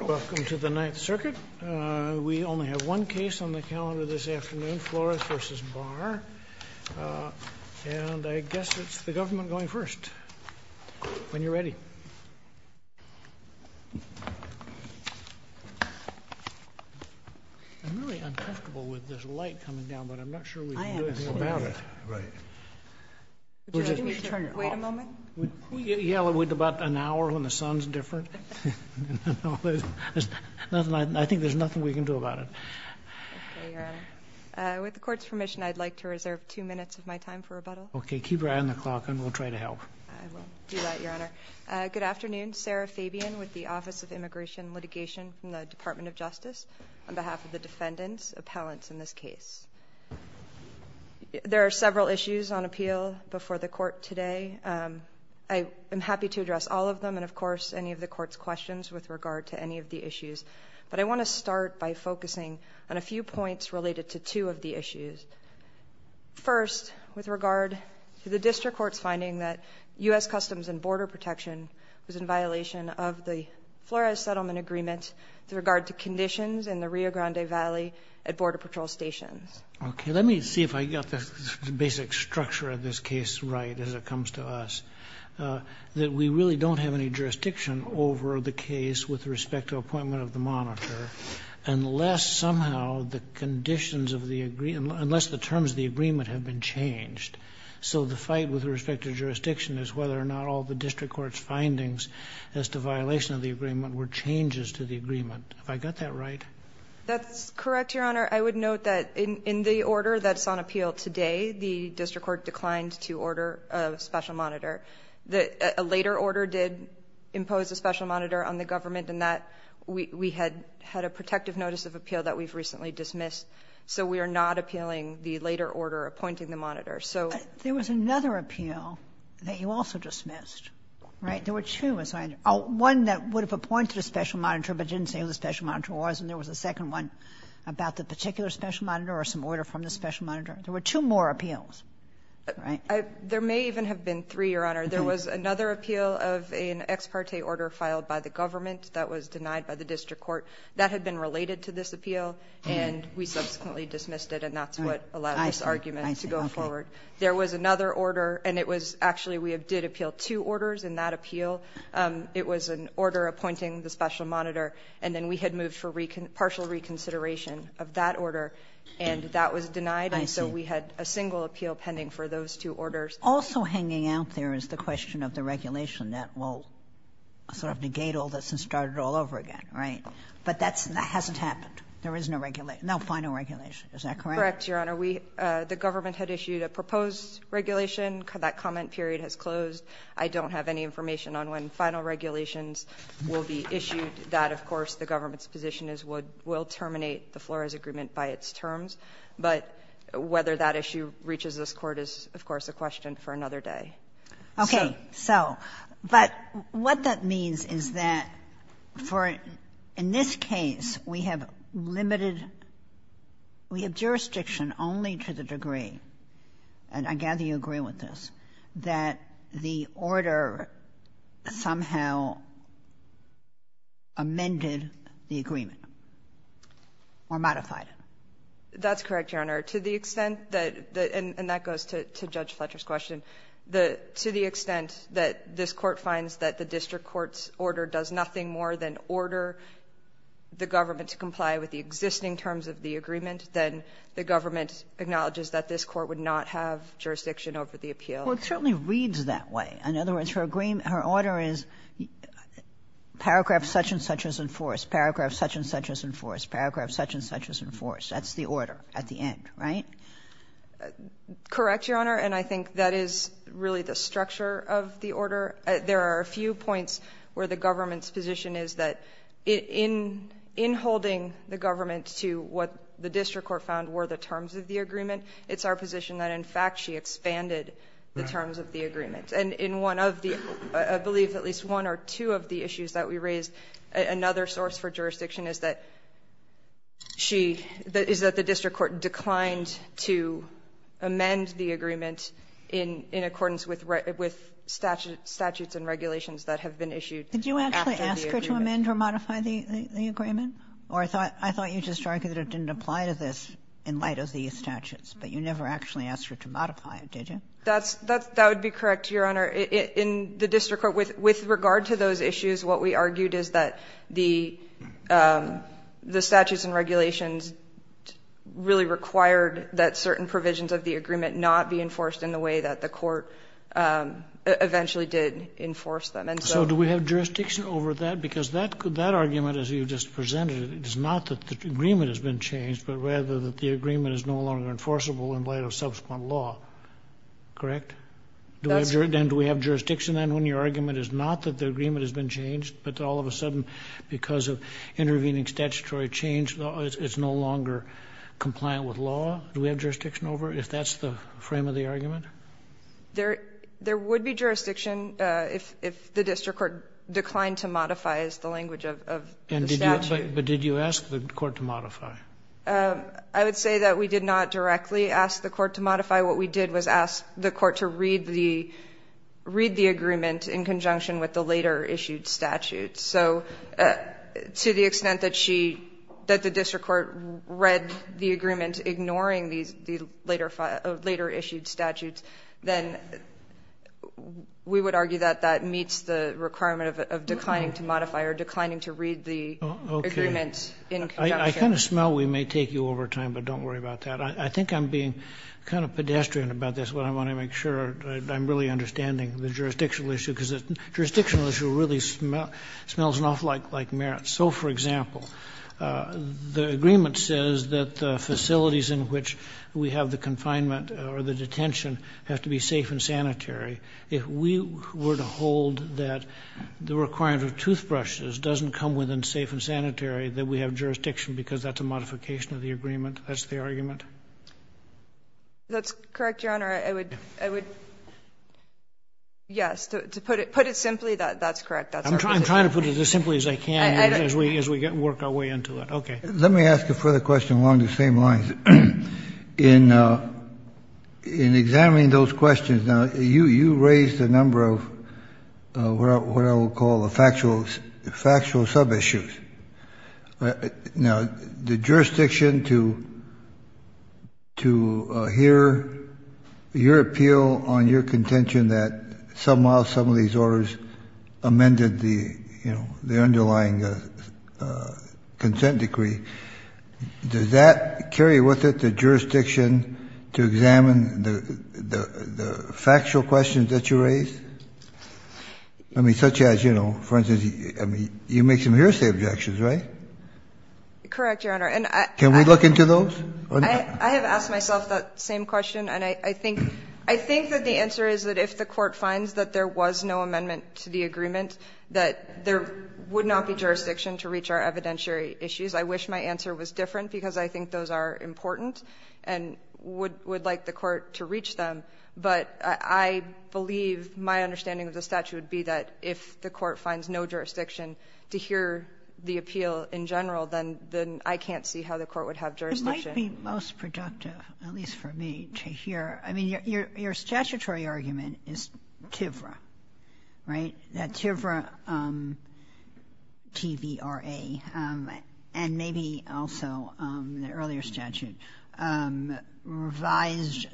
Welcome to the Ninth Circuit. We only have one case on the calendar this afternoon, Flores v. Barr, and I guess it's the government going first, when you're ready. I'm really uncomfortable with this light coming down, but I'm not sure we can do anything about it. Right. Would you like me to turn it off? Wait a moment. Can we yell it with about an hour when the sun's different? I think there's nothing we can do about it. With the Court's permission, I'd like to reserve two minutes of my time for rebuttal. Okay, keep your eye on the clock, and we'll try to help. I will do that, Your Honor. Good afternoon. Sarah Fabian with the Office of Immigration and Litigation from the Department of Justice on behalf of the defendants, appellants in this case. There are several issues on appeal before the Court today. I am happy to address all of them and, of course, any of the Court's questions with regard to any of the issues, but I want to start by focusing on a few points related to two of the issues. First, with regard to the District Court's finding that U.S. Customs and Border Protection was in violation of the Flores Settlement Agreement with regard to conditions in the case. Okay. Let me see if I got the basic structure of this case right as it comes to us, that we really don't have any jurisdiction over the case with respect to appointment of the monitor unless somehow the conditions of the agreement, unless the terms of the agreement have been changed. So the fight with respect to jurisdiction is whether or not all the District Court's findings as to violation of the agreement were changes to the agreement. Have I got that right? That's correct, Your Honor. I would note that in the order that's on appeal today, the District Court declined to order a special monitor. A later order did impose a special monitor on the government, and that we had had a protective notice of appeal that we've recently dismissed. So we are not appealing the later order appointing the monitor. So there was another appeal that you also dismissed, right? There were two, one that would have appointed a special monitor but didn't say who the particular special monitor or some order from the special monitor. There were two more appeals, right? There may even have been three, Your Honor. There was another appeal of an ex parte order filed by the government that was denied by the District Court that had been related to this appeal, and we subsequently dismissed it and that's what allowed this argument to go forward. There was another order, and it was actually we did appeal two orders in that appeal. It was an order appointing the special monitor, and then we had moved for partial reconsideration of that order, and that was denied, and so we had a single appeal pending for those two orders. Also hanging out there is the question of the regulation that will sort of negate all this and start it all over again, right? But that hasn't happened. There is no regulation, no final regulation. Is that correct? Correct, Your Honor. We, the government had issued a proposed regulation. That comment period has closed. I don't have any information on when final regulations will be issued that, of course, the government's position is will terminate the Flores Agreement by its terms, but whether that issue reaches this Court is, of course, a question for another day. Okay. So, but what that means is that for, in this case, we have limited, we have jurisdiction only to the degree, and I gather you agree with this, that the order somehow amended the agreement or modified it? That's correct, Your Honor. To the extent that, and that goes to Judge Fletcher's question, the, to the extent that this Court finds that the district court's order does nothing more than order the government to comply with the existing terms of the agreement, then the government acknowledges that this Court would not have jurisdiction over the appeal. Well, it certainly reads that way. In other words, her agreement, her order is paragraph such and such is enforced, paragraph such and such is enforced, paragraph such and such is enforced. That's the order at the end, right? Correct, Your Honor, and I think that is really the structure of the order. There are a few points where the government's position is that in holding the government to what the district court found were the terms of the agreement, it's our position that, in fact, she expanded the terms of the agreement. And in one of the, I believe at least one or two of the issues that we raised, another source for jurisdiction is that she, is that the district court declined to amend the agreement in accordance with statutes and regulations that have been issued after the agreement. Did you actually ask her to amend or modify the agreement? Or I thought you just argued that it didn't apply to this in light of these statutes, but you never actually asked her to modify it, did you? That would be correct, Your Honor. In the district court, with regard to those issues, what we argued is that the statutes and regulations really required that certain provisions of the agreement not be enforced in the way that the court eventually did enforce them. So do we have jurisdiction over that? Because that argument, as you just presented it, is not that the agreement has been changed, but rather that the agreement is no longer enforceable in light of subsequent law, correct? And do we have jurisdiction then when your argument is not that the agreement has been changed, it's no longer compliant with law, do we have jurisdiction over it if that's the frame of the argument? There would be jurisdiction if the district court declined to modify, is the language of the statute. But did you ask the court to modify? I would say that we did not directly ask the court to modify. What we did was ask the court to read the agreement in conjunction with the later issued statute. So to the extent that she, that the district court read the agreement ignoring the later issued statutes, then we would argue that that meets the requirement of declining to modify or declining to read the agreement in conjunction. I kind of smell we may take you over time, but don't worry about that. I think I'm being kind of pedestrian about this, but I want to make sure I'm really understanding the jurisdictional issue because the jurisdictional issue really smells an awful lot like merits. So for example, the agreement says that the facilities in which we have the confinement or the detention have to be safe and sanitary. If we were to hold that the requirement of toothbrushes doesn't come within safe and sanitary, then we have jurisdiction because that's a modification of the agreement. That's the argument? That's correct, Your Honor. I would, yes, to put it simply, that's correct. I'm trying to put it as simply as I can as we work our way into it. Okay. Let me ask a further question along the same lines. In examining those questions, now, you raised a number of what I will call the factual sub-issues. Now, the jurisdiction to hear your appeal on your contention that somehow some of these orders amended the underlying consent decree, does that carry with it the jurisdiction to examine the factual questions that you raised? I mean, such as, you know, for instance, you make some hearsay objections, right? Correct, Your Honor. Can we look into those? I have asked myself that same question, and I think that the answer is that if the Court finds that there was no amendment to the agreement, that there would not be jurisdiction to reach our evidentiary issues. I wish my answer was different, because I think those are important and would like the Court to reach them. But I believe my understanding of the statute would be that if the Court finds no jurisdiction to hear the appeal in general, then I can't see how the Court would have jurisdiction. It might be most productive, at least for me, to hear. I mean, your statutory argument is TIVRA, right? That TIVRA, T-V-R-A, and maybe also the earlier statute, revised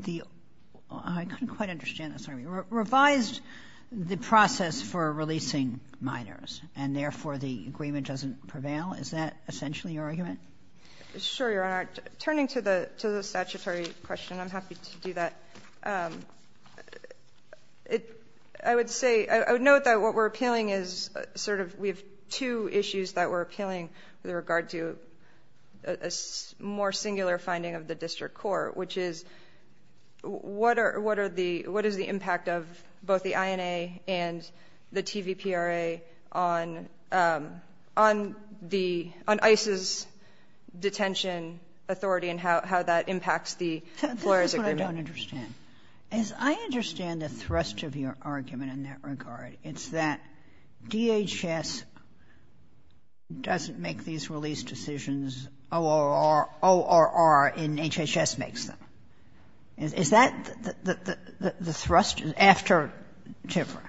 the—I couldn't quite understand this, sorry—revised the process for releasing minors, and therefore the agreement doesn't prevail? Is that essentially your argument? Sure, Your Honor. Turning to the statutory question, I'm happy to do that. I would say—I would note that what we're appealing is sort of—we have two issues that we're appealing with regard to a more singular finding of the District Court, which is what is the impact of both the INA and the T-V-P-R-A on ICE's detention authority and how that impacts the employer's agreement? This is what I don't understand. As I understand the thrust of your argument in that regard, it's that DHS doesn't make these release decisions, ORR in HHS makes them. Is that the thrust after TIVRA?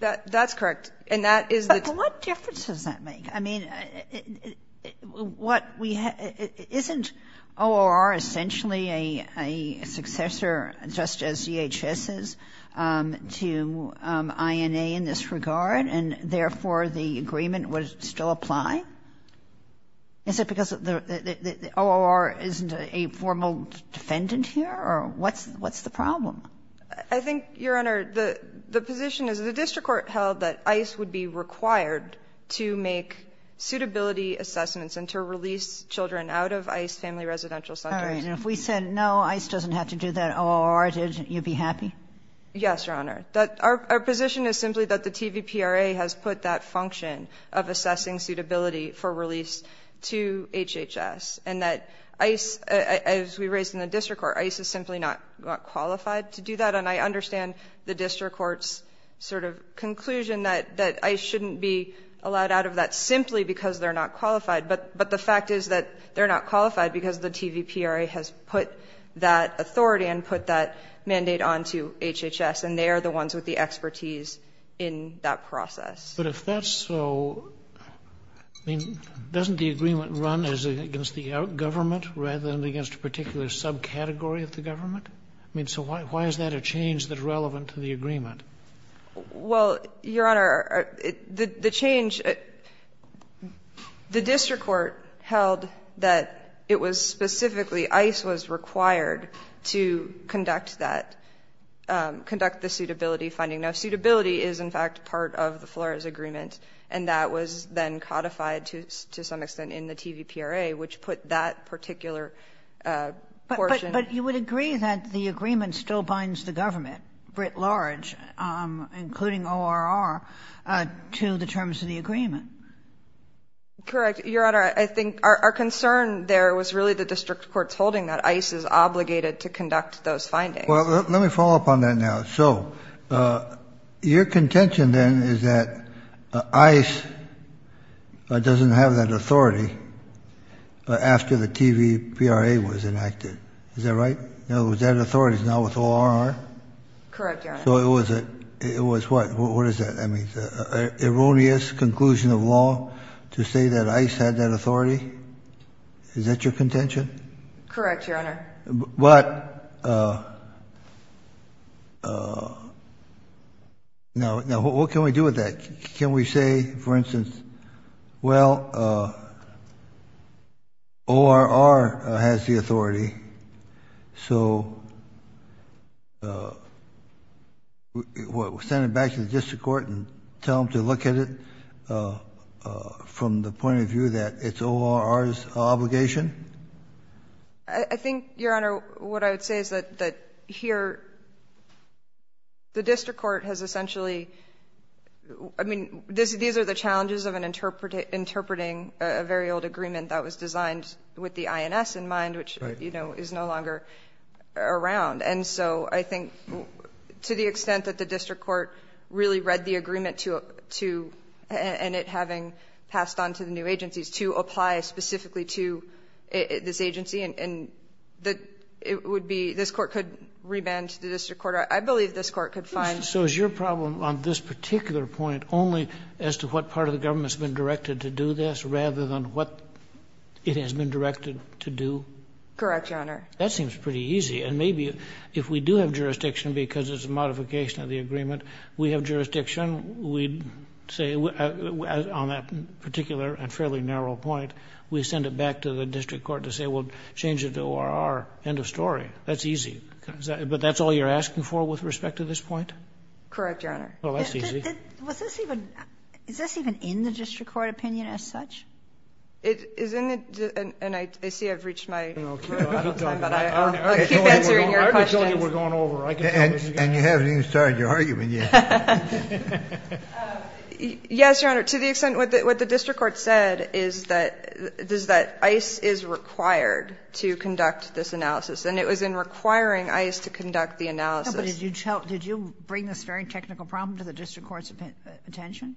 That's correct. And that is the— But what difference does that make? I mean, what we—isn't ORR essentially a successor, just as DHS is, to INA in this Is it because ORR isn't a formal defendant here, or what's the problem? I think, Your Honor, the position is the District Court held that ICE would be required to make suitability assessments and to release children out of ICE family residential centers. All right. And if we said, no, ICE doesn't have to do that, ORR did, you'd be happy? Yes, Your Honor. Our position is simply that the TVPRA has put that function of assessing suitability for release to HHS, and that ICE, as we raised in the District Court, ICE is simply not qualified to do that. And I understand the District Court's sort of conclusion that ICE shouldn't be allowed out of that simply because they're not qualified, but the fact is that they're not qualified because the TVPRA has put that authority and put that mandate onto HHS, and they are the ones with the expertise in that process. But if that's so, I mean, doesn't the agreement run against the government rather than against a particular subcategory of the government? I mean, so why is that a change that's relevant to the agreement? Well, Your Honor, the change, the District Court held that it was specifically ICE was finding no suitability is in fact part of the Flores Agreement, and that was then codified to some extent in the TVPRA, which put that particular portion. But you would agree that the agreement still binds the government, writ large, including ORR, to the terms of the agreement? Correct. Your Honor, I think our concern there was really the District Court's holding that ICE is obligated to conduct those findings. Well, let me follow up on that now. So, your contention then is that ICE doesn't have that authority after the TVPRA was enacted. Is that right? In other words, that authority is now with ORR? Correct, Your Honor. So it was a, it was what, what is that, I mean, erroneous conclusion of law to say that ICE had that authority? Is that your contention? Correct, Your Honor. But, now, what can we do with that? Can we say, for instance, well, ORR has the authority, so send it back to the District Court and tell them to look at it from the point of view that it's ORR's obligation? I think, Your Honor, what I would say is that, that here, the District Court has essentially, I mean, these are the challenges of interpreting a very old agreement that was designed with the INS in mind, which, you know, is no longer around. And so, I think, to the extent that the District Court really read the agreement to, and it on to the new agencies, to apply specifically to this agency, and that it would be, this court could re-band to the District Court, I believe this court could find. So is your problem on this particular point only as to what part of the government's been directed to do this, rather than what it has been directed to do? Correct, Your Honor. That seems pretty easy. And maybe if we do have jurisdiction, because it's a modification of the agreement, we have jurisdiction, we'd say, on that particular and fairly narrow point, we send it back to the District Court to say, we'll change it to ORR, end of story. That's easy. But that's all you're asking for with respect to this point? Correct, Your Honor. Well, that's easy. Was this even, is this even in the District Court opinion as such? It is in the, and I see I've reached my time, but I'll keep answering your questions. I already told you we're going over. And you haven't even started your argument yet. Yes, Your Honor. To the extent, what the District Court said is that ICE is required to conduct this analysis, and it was in requiring ICE to conduct the analysis. But did you bring this very technical problem to the District Court's attention?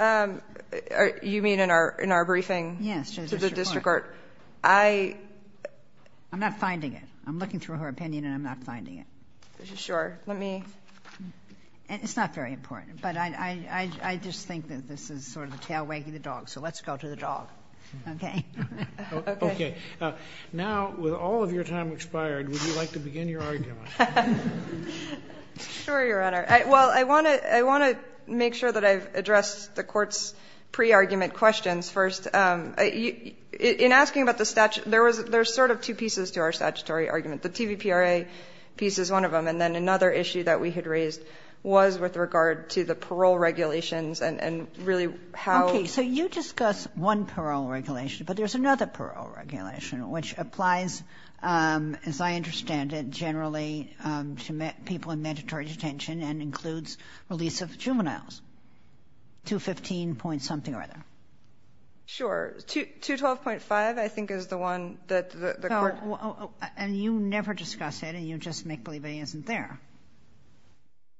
You mean in our briefing to the District Court? Yes, to the District Court. I'm not finding it. I'm looking through her opinion, and I'm not finding it. Sure. Let me. It's not very important, but I just think that this is sort of the tail wagging the dog, so let's go to the dog. Okay? Okay. Now, with all of your time expired, would you like to begin your argument? Sure, Your Honor. Well, I want to make sure that I've addressed the Court's pre-argument questions first. In asking about the statute, there's sort of two pieces to our statutory argument. The TVPRA piece is one of them, and then another issue that we had raised was with regard to the parole regulations, and really how... Okay. So you discuss one parole regulation, but there's another parole regulation, which applies, as I understand it, generally to people in mandatory detention and includes release of juveniles, 215 point something or other. Sure. And you never discuss it, and you just make believe it isn't there.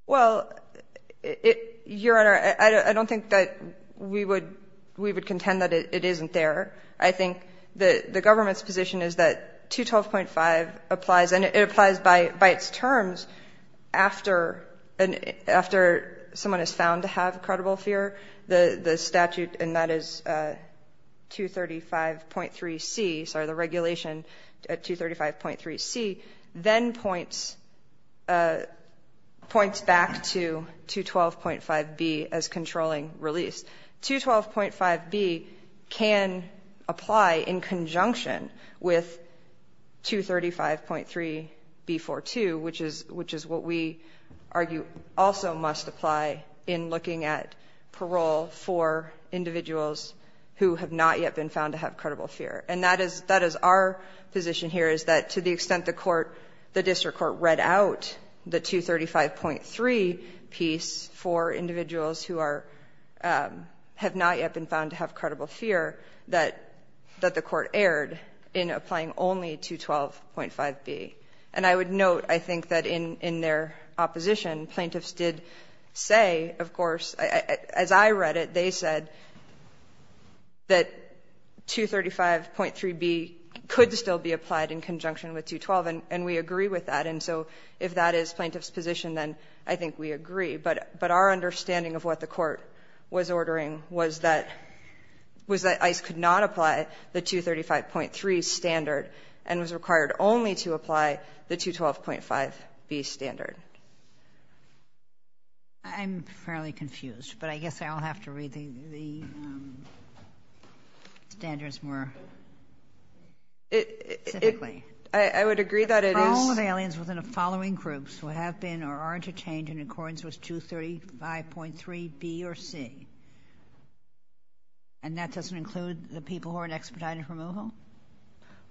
Well, Your Honor, I don't think that we would contend that it isn't there. I think the government's position is that 212.5 applies, and it applies by its terms after someone is found to have a credible fear. The statute, and that is 235.3c, sorry, the regulation at 235.3c, then points back to 212.5b as controlling release. 212.5b can apply in conjunction with 235.3b42, which is what we argue also must apply in looking at parole for individuals who have not yet been found to have credible fear. And that is our position here, is that to the extent the court, the district court read out the 235.3 piece for individuals who have not yet been found to have credible fear, that the court erred in applying only 212.5b. And I would note, I think, that in their opposition, plaintiffs did say, of course, as I read it, they said that 235.3b could still be applied in conjunction with 212, and we agree with that. And so if that is plaintiff's position, then I think we agree. But our understanding of what the court was ordering was that ICE could not apply the 235.3 standard, and was required only to apply the 212.5b standard. I'm fairly confused, but I guess I'll have to read the standards more specifically. I would agree that it is... The following of aliens within the following groups who have been or are interchanged in accordance with 235.3b or c, and that doesn't include the people who are in expedited removal?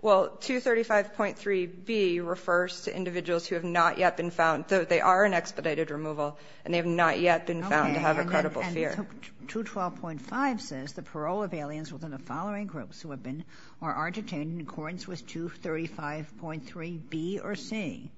Well, 235.3b refers to individuals who have not yet been found, though they are in expedited removal, and they have not yet been found to have a credible fear. Okay, and 212.5 says the parole of aliens within the following groups who have been or are detained in accordance with 235.3b or c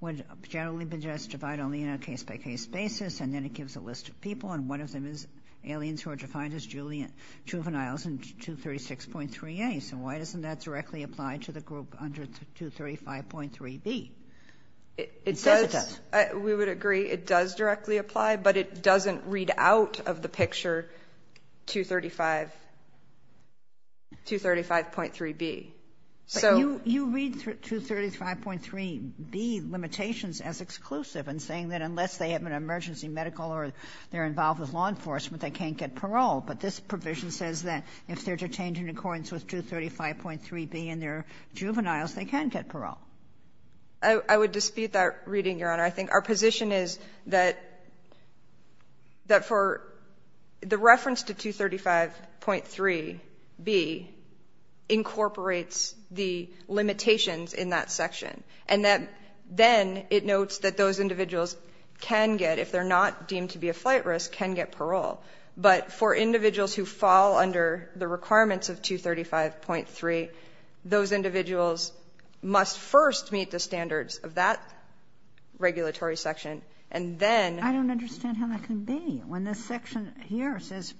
would generally be justified only in a case-by-case basis, and then it gives a list of people, and one of them is 236.3a. So why doesn't that directly apply to the group under 235.3b? We would agree it does directly apply, but it doesn't read out of the picture 235.3b. But you read 235.3b limitations as exclusive and saying that unless they have an emergency medical or they're involved with law enforcement, they can't get parole, unless they're detained in accordance with 235.3b and they're juveniles, they can't get parole. I would dispute that reading, Your Honor. I think our position is that for the reference to 235.3b incorporates the limitations in that section, and that then it notes that those individuals can get, if they're not deemed to be a flight risk, can get parole. But for individuals who fall under the requirements of 235.3, those individuals must first meet the standards of that regulatory section, and then... I don't understand how that can be when this section here says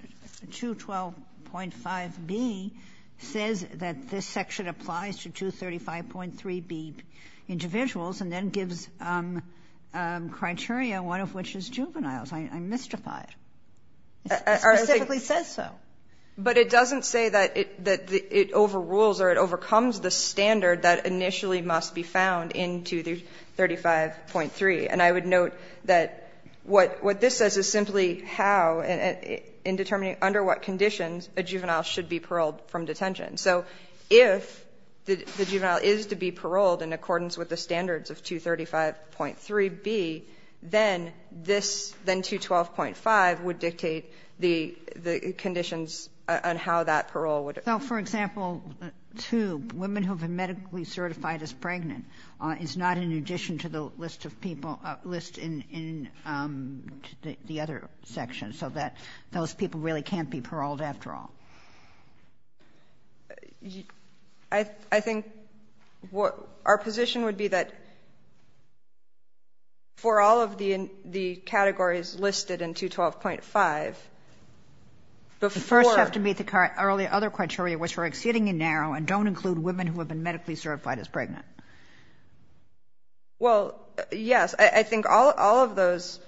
212.5b says that this section applies to 235.3b individuals and then gives criteria, one of which is juveniles, I'm mystified. It specifically says so. But it doesn't say that it overrules or it overcomes the standard that initially must be found in 235.3. And I would note that what this says is simply how, in determining under what conditions, a juvenile should be paroled from detention. So if the juvenile is to be paroled in accordance with the standards of 235.3b, then this, then 212.5, would dictate the conditions on how that parole would... So, for example, two women who have been medically certified as pregnant is not in addition to the list of people, list in the other section, so that those people really can't be paroled after all. I think our position would be that for all of the categories listed in 212.5, before... But first you have to meet the other criteria, which are exceedingly narrow and don't include women who have been medically certified as pregnant. Well, yes. I think all of those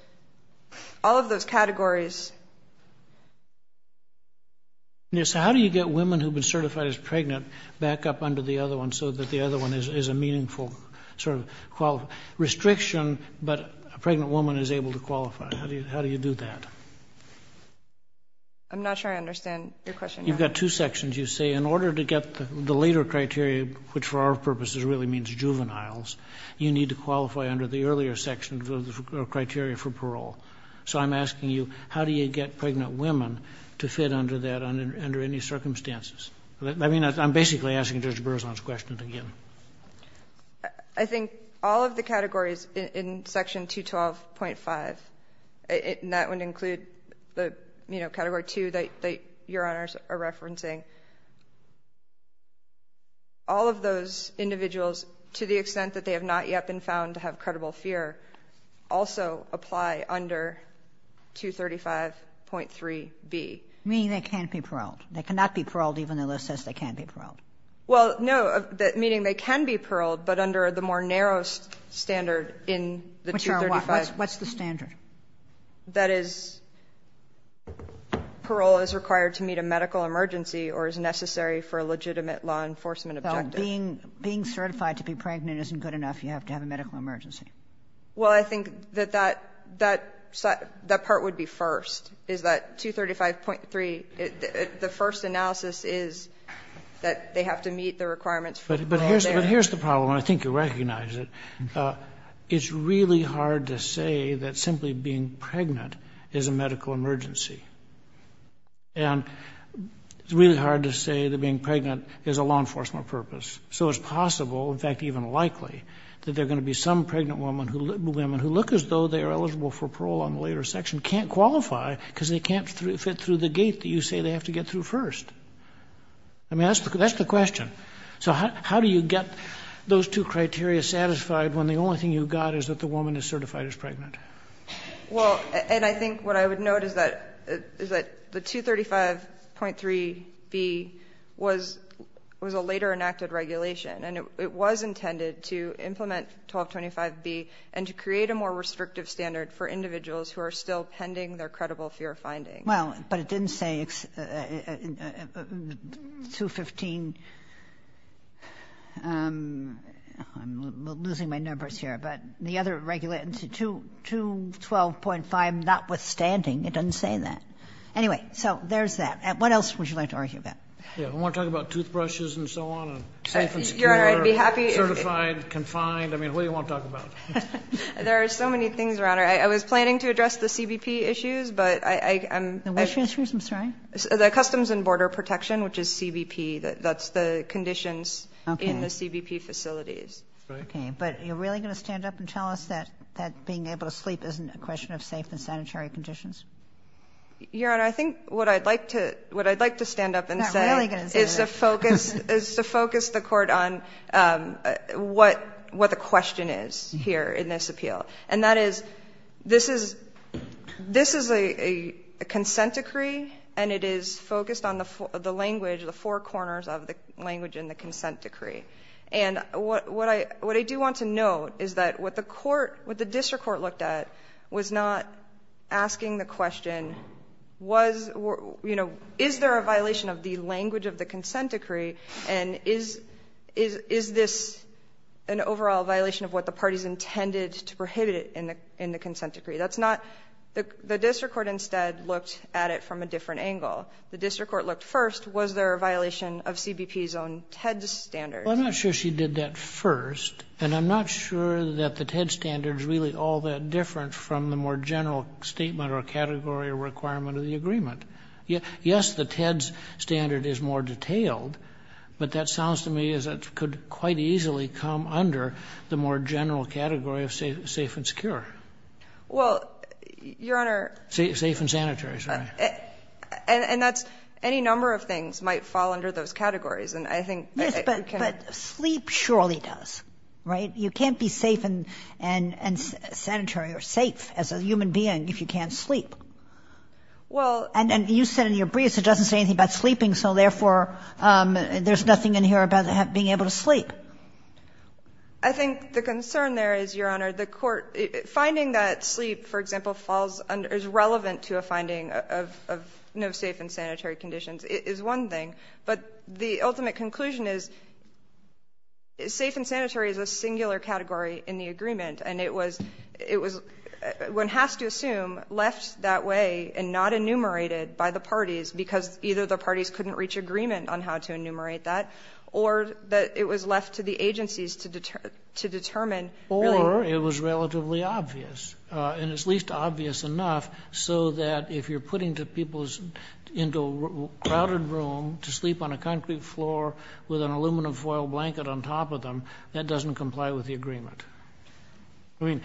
categories... So how do you get women who have been certified as pregnant back up under the other one so that the other one is a meaningful sort of qualification? Restriction, but a pregnant woman is able to qualify. How do you do that? I'm not sure I understand your question, Your Honor. You've got two sections. You say, in order to get the later criteria, which for our purposes really means juveniles, you need to qualify under the earlier section of the criteria for parole. So I'm asking you, how do you get pregnant women to fit under that under any circumstances? I mean, I'm basically asking Judge Berzon's question again. I think all of the categories in Section 212.5, and that would include the, you know, Category 2 that Your Honors are referencing, all of those individuals, to the extent that they have not yet been found to have credible fear, also apply under 235.3b. Meaning they can't be paroled. They cannot be paroled even though it says they can't be paroled. Well, no, meaning they can be paroled, but under the more narrow standard in the 235... Which are what? What's the standard? That is, parole is required to meet a medical emergency or is necessary for a legitimate law enforcement objective. Being certified to be pregnant isn't good enough. If you have to have a medical emergency. Well, I think that that part would be first. Is that 235.3, the first analysis is that they have to meet the requirements for parole there. But here's the problem, and I think you recognize it. It's really hard to say that simply being pregnant is a medical emergency. And it's really hard to say that being pregnant is a law enforcement purpose. So it's possible, in fact even likely, that there are going to be some pregnant women who look as though they are eligible for parole on the later section, can't qualify because they can't fit through the gate that you say they have to get through first. I mean, that's the question. So how do you get those two criteria satisfied when the only thing you've got is that the woman is certified as pregnant? Well, and I think what I would note is that the 235.3b was a later enacted regulation, and it was intended to implement 1225b and to create a more restrictive standard for individuals who are still pending their credible fear findings. Well, but it didn't say 215. I'm losing my numbers here. But the other regulation, 212.5 notwithstanding, it doesn't say that. Anyway, so there's that. What else would you like to argue about? I want to talk about toothbrushes and so on and safe and secure, certified, confined. I mean, what do you want to talk about? There are so many things, Your Honor. I was planning to address the CBP issues, but I'm going to. What issues? I'm sorry. The Customs and Border Protection, which is CBP. That's the conditions in the CBP facilities. Okay. But you're really going to stand up and tell us that being able to sleep isn't a question of safe and sanitary conditions? Your Honor, I think what I'd like to stand up and say is that is to focus the court on what the question is here in this appeal. And that is, this is a consent decree, and it is focused on the language, the four corners of the language in the consent decree. And what I do want to note is that what the court, what the district court looked at was not asking the question, is there a violation of the language of the consent decree, and is this an overall violation of what the parties intended to prohibit in the consent decree? That's not, the district court instead looked at it from a different angle. The district court looked first, was there a violation of CBP's own TED standards? Well, I'm not sure she did that first, and I'm not sure that the TED standards are really all that different from the more general statement or category or requirement of the agreement. Yes, the TED standard is more detailed, but that sounds to me as it could quite easily come under the more general category of safe and secure. Well, Your Honor. Safe and sanitary, sorry. And that's, any number of things might fall under those categories, and I think we can. Yes, but sleep surely does, right? You can't be safe and sanitary or safe as a human being if you can't sleep. Well. And you said in your briefs it doesn't say anything about sleeping, so therefore there's nothing in here about being able to sleep. I think the concern there is, Your Honor, the court, finding that sleep, for example, is relevant to a finding of no safe and sanitary conditions is one thing, but the ultimate conclusion is safe and sanitary is a singular category in the agreement, and it was, one has to assume, left that way and not enumerated by the parties because either the parties couldn't reach agreement on how to enumerate that, or that it was left to the agencies to determine. Or it was relatively obvious, and it's least obvious enough so that if you're putting people into a crowded room to sleep on a concrete floor with an aluminum foil blanket on top of them, that doesn't comply with the agreement. I mean,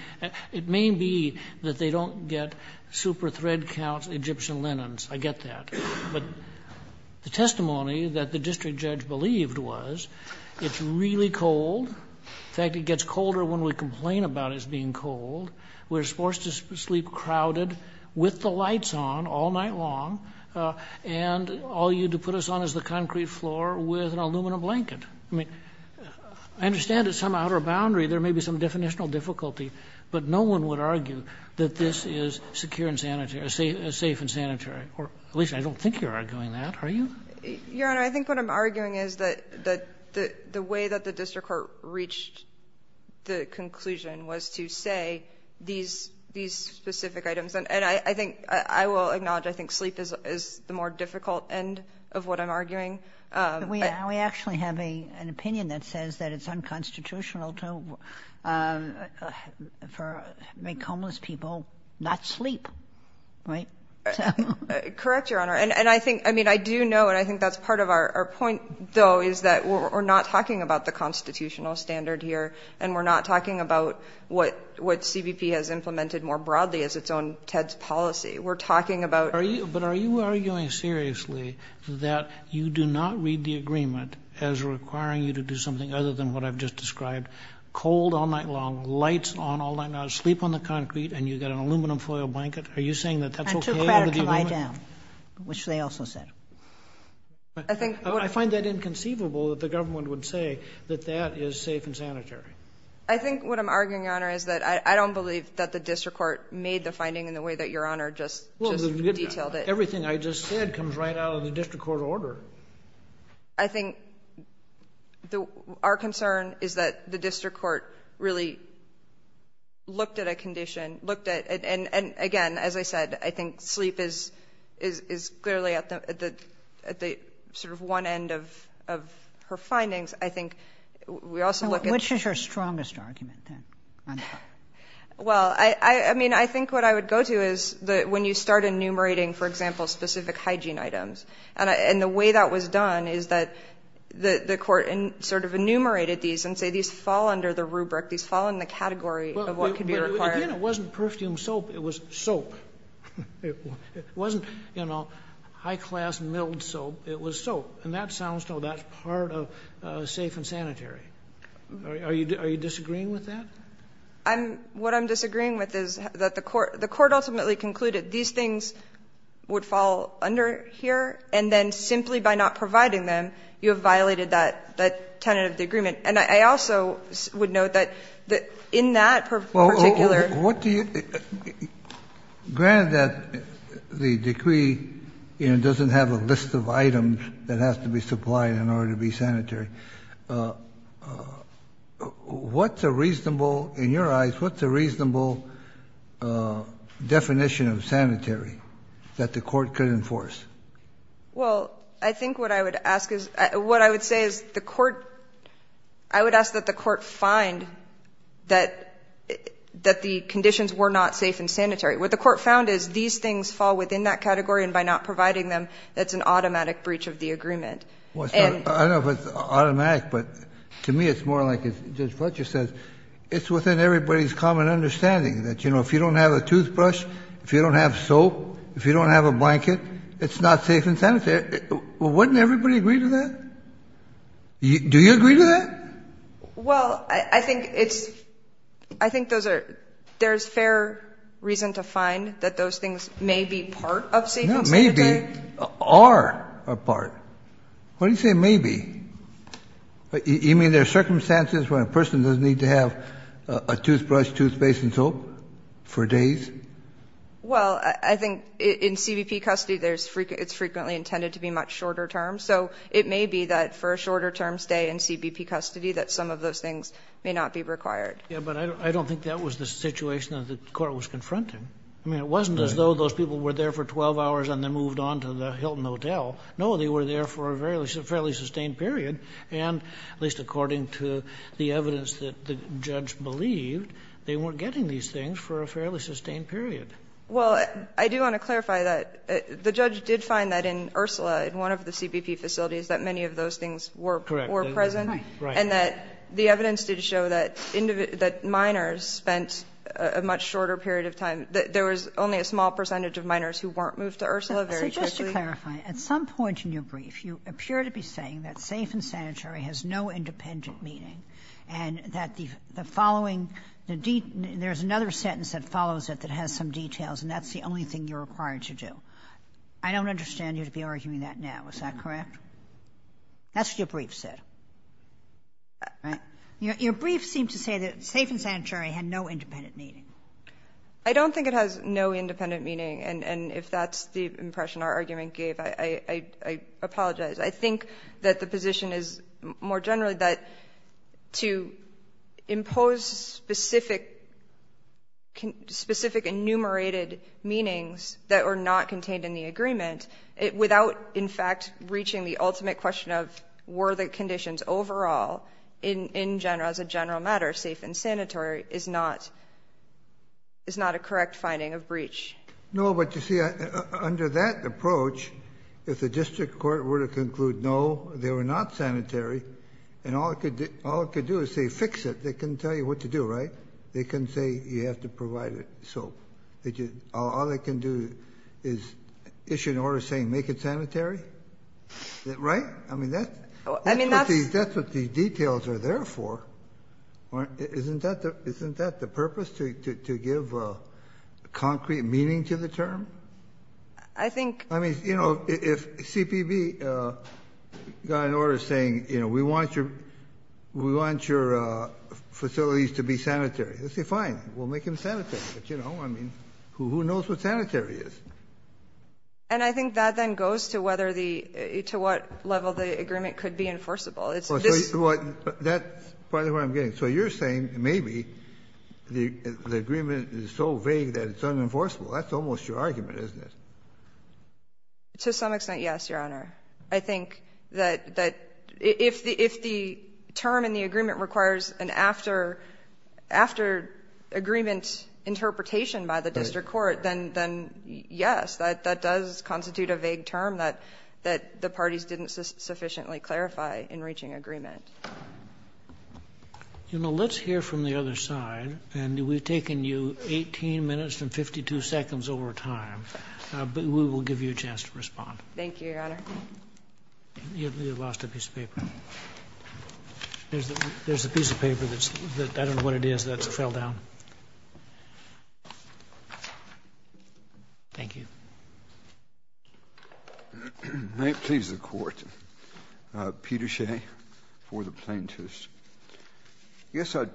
it may be that they don't get super thread counts Egyptian linens. I get that. But the testimony that the district judge believed was it's really cold. In fact, it gets colder when we complain about it being cold. We're forced to sleep crowded with the lights on all night long, and all you had to put us on is the concrete floor with an aluminum blanket. I mean, I understand at some outer boundary there may be some definitional difficulty, but no one would argue that this is secure and sanitary, safe and sanitary, or at least I don't think you're arguing that. Are you? Your Honor, I think what I'm arguing is that the way that the district court reached the conclusion was to say these specific items. And I think I will acknowledge I think sleep is the more difficult end of what I'm arguing. We actually have an opinion that says that it's unconstitutional to make homeless people not sleep. Right? Correct, Your Honor. And I mean, I do know, and I think that's part of our point, though, is that we're not talking about the constitutional standard here, and we're not talking about what CBP has implemented more broadly as its own TEDS policy. We're talking about – But are you arguing seriously that you do not read the agreement as requiring you to do something other than what I've just described, cold all night long, lights on all night long, sleep on the concrete, and you've got an aluminum foil blanket? Are you saying that that's okay under the agreement? I took credit to lie down, which they also said. I find that inconceivable that the government would say that that is safe and sanitary. I think what I'm arguing, Your Honor, is that I don't believe that the district court made the finding in the way that Your Honor just detailed it. Everything I just said comes right out of the district court order. I think our concern is that the district court really looked at a condition, and again, as I said, I think sleep is clearly at the sort of one end of her findings. I think we also look at— Which is her strongest argument, then? Well, I mean, I think what I would go to is when you start enumerating, for example, specific hygiene items, and the way that was done is that the court sort of enumerated these and said these fall under the rubric, these fall in the category of what could be required. Again, it wasn't Perfume Soap. It was soap. It wasn't, you know, high-class milled soap. It was soap. And that sounds as though that's part of safe and sanitary. Are you disagreeing with that? What I'm disagreeing with is that the court ultimately concluded these things would fall under here, and then simply by not providing them, you have violated that tenet of the agreement. And I also would note that in that particular— Well, what do you — granted that the decree, you know, doesn't have a list of items that has to be supplied in order to be sanitary, what's a reasonable — in your eyes, what's a reasonable definition of sanitary that the court could enforce? Well, I think what I would ask is — what I would say is the court — I would ask that the court find that the conditions were not safe and sanitary. What the court found is these things fall within that category, and by not providing them, that's an automatic breach of the agreement. Well, I don't know if it's automatic, but to me it's more like, as Judge Fletcher says, it's within everybody's common understanding that, you know, if you don't have a toothbrush, if you don't have soap, if you don't have a blanket, it's not safe and sanitary. Wouldn't everybody agree to that? Do you agree to that? Well, I think it's — I think those are — there's fair reason to find that those things may be part of safe and sanitary. Not may be. Are a part. What do you say may be? You mean there are circumstances where a person doesn't need to have a toothbrush, toothpaste and soap for days? Well, I think in CBP custody there's — it's frequently intended to be much shorter terms. So it may be that for a shorter-term stay in CBP custody that some of those things may not be required. Yeah, but I don't think that was the situation that the court was confronting. I mean, it wasn't as though those people were there for 12 hours and then moved on to the Hilton Hotel. No, they were there for a fairly sustained period. And at least according to the evidence that the judge believed, they weren't getting these things for a fairly sustained period. Well, I do want to clarify that the judge did find that in Ursula, in one of the CBP facilities, that many of those things were present. Correct. Right. And that the evidence did show that minors spent a much shorter period of time — that there was only a small percentage of minors who weren't moved to Ursula very quickly. Just to clarify, at some point in your brief you appear to be saying that safe and sanitary has no independent meaning and that the following — there's another sentence that follows it that has some details, and that's the only thing you're required to do. I don't understand you to be arguing that now. Is that correct? That's what your brief said. Right? Your brief seemed to say that safe and sanitary had no independent meaning. I don't think it has no independent meaning. And if that's the impression our argument gave, I apologize. I think that the position is, more generally, that to impose specific enumerated meanings that were not contained in the agreement, without in fact reaching the ultimate question of were the conditions overall, in general, as a general matter, safe and sanitary, is not a correct finding of breach. No, but you see, under that approach, if the district court were to conclude no, they were not sanitary, and all it could do is say fix it, they couldn't tell you what to do, right? They couldn't say you have to provide it. So all they can do is issue an order saying make it sanitary? Right? I mean, that's what the details are there for. Isn't that the purpose, to give concrete meaning to the term? I think... I mean, you know, if CPB got an order saying, you know, we want your facilities to be sanitary, let's say fine, we'll make them sanitary. But, you know, I mean, who knows what sanitary is? And I think that then goes to what level the agreement could be enforceable. It's just... That's part of what I'm getting. So you're saying maybe the agreement is so vague that it's unenforceable. That's almost your argument, isn't it? To some extent, yes, Your Honor. I think that if the term in the agreement requires an after-agreement interpretation by the district court, then yes, that does constitute a vague term that the parties didn't sufficiently clarify in reaching agreement. You know, let's hear from the other side. And we've taken you 18 minutes and 52 seconds over time. But we will give you a chance to respond. Thank you, Your Honor. You lost a piece of paper. There's a piece of paper that's... I don't know what it is that fell down. Thank you. May it please the Court. Peter Shea for the plaintiffs. I guess I'd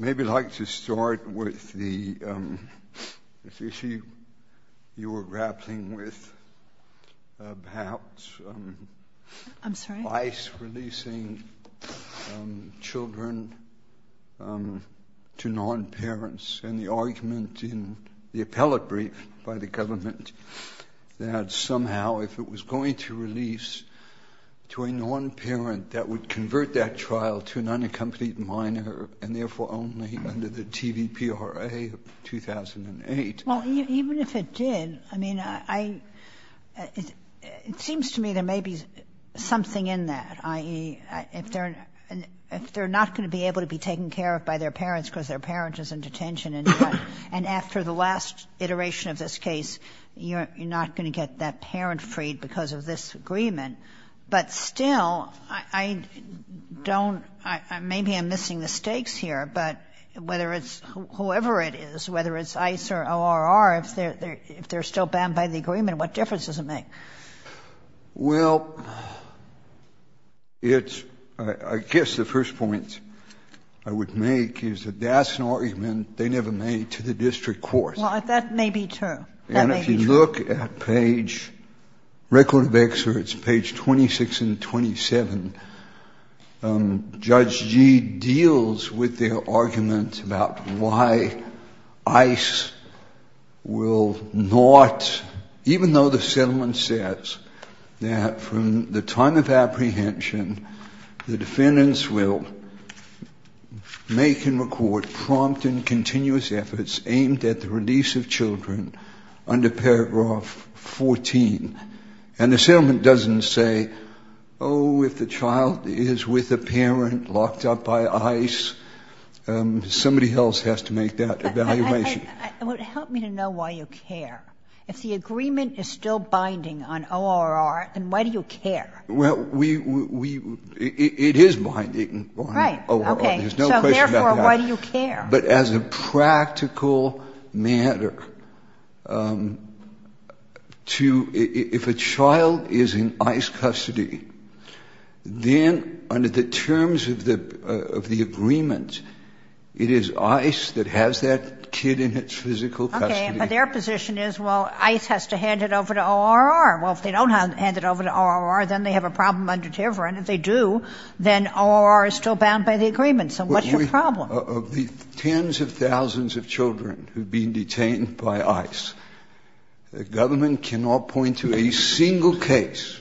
maybe like to start with the issue you were grappling with about... I'm sorry? ...releasing children to non-parents and the argument in the appellate brief by the government that somehow if it was going to release to a non-parent that would convert that child to an unaccompanied minor and therefore only under the TVPRA of 2008... Well, even if it did, I mean, I... It seems to me there may be something in that, i.e., if they're not going to be able to be taken care of by their parents because their parent is in detention and after the last iteration of this case, you're not going to get that parent freed because of this agreement. But still, I don't... Maybe I'm missing the stakes here. But whether it's whoever it is, whether it's ICE or ORR, if they're still banned by the agreement, what difference does it make? Well, it's... I guess the first point I would make is that that's an argument they never made to the district courts. Well, that may be true. That may be true. And if you look at page... Judge G deals with their argument about why ICE will not, even though the settlement says that from the time of apprehension, the defendants will make and record prompt and continuous efforts aimed at the release of children under paragraph 14. And the settlement doesn't say, oh, if the child is with a parent locked up by ICE, somebody else has to make that evaluation. Help me to know why you care. If the agreement is still binding on ORR, then why do you care? Well, we... It is binding on ORR. Right. Okay. So, therefore, why do you care? But as a practical matter, to... If a child is in ICE custody, then under the terms of the agreement, it is ICE that has that kid in its physical custody. Okay. But their position is, well, ICE has to hand it over to ORR. Well, if they don't hand it over to ORR, then they have a problem under Tiverton. If they do, then ORR is still bound by the agreement. So what's your problem? Well, of the tens of thousands of children who have been detained by ICE, the government cannot point to a single case,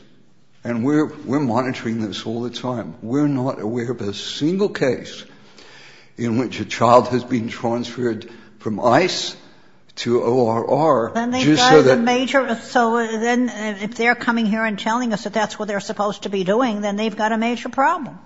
and we're monitoring this all the time, we're not aware of a single case in which a child has been transferred from ICE to ORR just so that... And they've got a major... So then if they're coming here and telling us that that's what they're supposed to be doing, then they've got a major problem.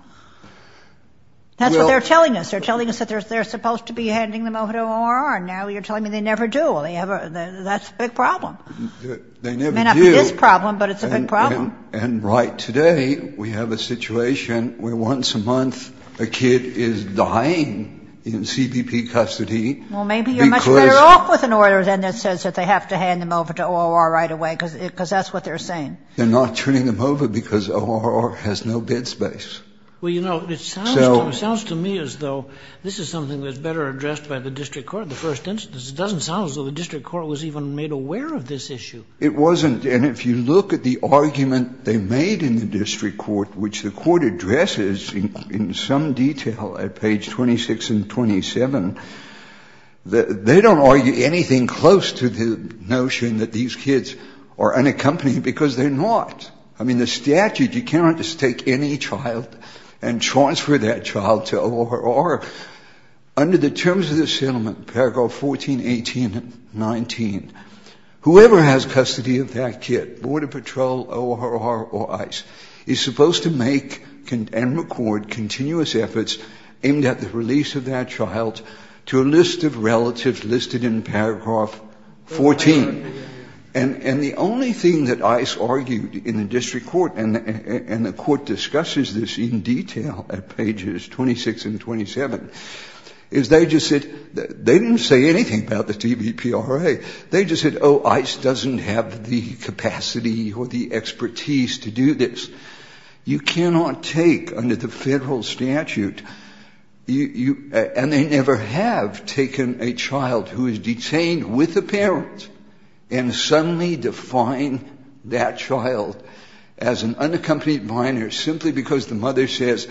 That's what they're telling us. They're telling us that they're supposed to be handing them over to ORR, and now you're telling me they never do. Well, that's a big problem. They never do. It may not be this problem, but it's a big problem. And right today we have a situation where once a month a kid is dying in CBP custody because... Well, maybe you're much better off with an order then that says that they have to hand them over to ORR right away, because that's what they're saying. They're not turning them over because ORR has no bed space. Well, you know, it sounds to me as though this is something that's better addressed by the district court, the first instance. It doesn't sound as though the district court was even made aware of this issue. It wasn't. And if you look at the argument they made in the district court, which the court addresses in some detail at page 26 and 27, they don't argue anything close to the notion that these kids are unaccompanied because they're not. I mean, the statute, you cannot just take any child and transfer that child to ORR. Under the terms of the settlement, paragraph 14.18.19, whoever has custody of that kid, Border Patrol, ORR or ICE, is supposed to make and record continuous efforts aimed at the release of that child to a list of relatives listed in paragraph 14. And the only thing that ICE argued in the district court, and the court discusses this in detail at pages 26 and 27, is they just said, they didn't say anything about the TBPRA. They just said, oh, ICE doesn't have the capacity or the expertise to do this. You cannot take under the Federal statute, and they never have taken a child who is unaccompanied and suddenly define that child as an unaccompanied minor simply because the mother says,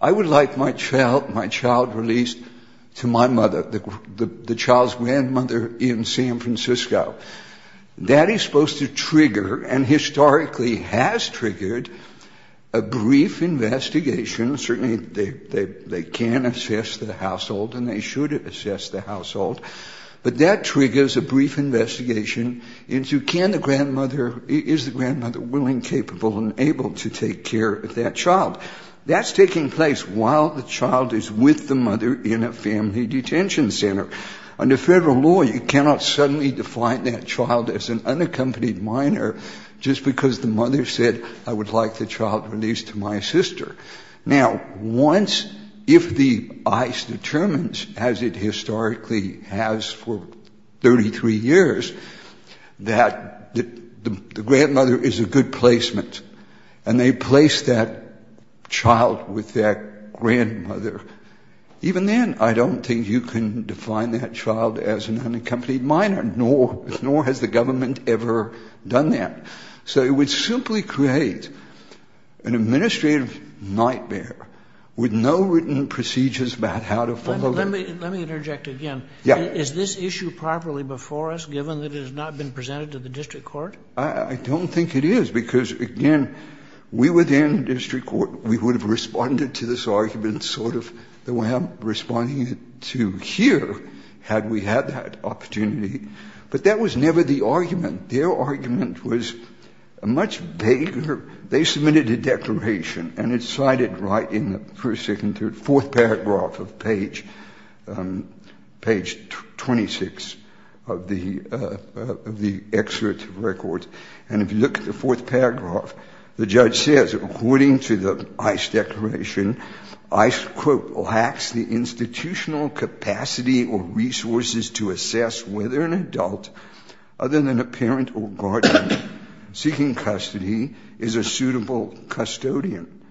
I would like my child released to my mother, the child's grandmother in San Francisco. That is supposed to trigger, and historically has triggered, a brief investigation. Certainly, they can assess the household, and they should assess the household. But that triggers a brief investigation into can the grandmother, is the grandmother willing, capable and able to take care of that child. That's taking place while the child is with the mother in a family detention center. Under Federal law, you cannot suddenly define that child as an unaccompanied minor just because the mother said, I would like the child released to my sister. Now, once, if the ICE determines, as it historically has for 33 years, that the grandmother is a good placement, and they place that child with that grandmother, even then I don't think you can define that child as an unaccompanied minor, nor has the government ever done that. So it would simply create an administrative nightmare with no written procedures about how to follow that. Let me interject again. Yeah. Is this issue properly before us, given that it has not been presented to the district court? I don't think it is because, again, we within district court, we would have responded to this argument sort of the way I'm responding to here had we had that opportunity. But that was never the argument. Their argument was much vaguer. They submitted a declaration, and it's cited right in the first, second, third, fourth paragraph of page 26 of the excerpt of records. And if you look at the fourth paragraph, the judge says, according to the ICE declaration, ICE, quote, lacks the institutional capacity or resources to assess whether an adult, other than a parent or guardian seeking custody, is a suitable custodian.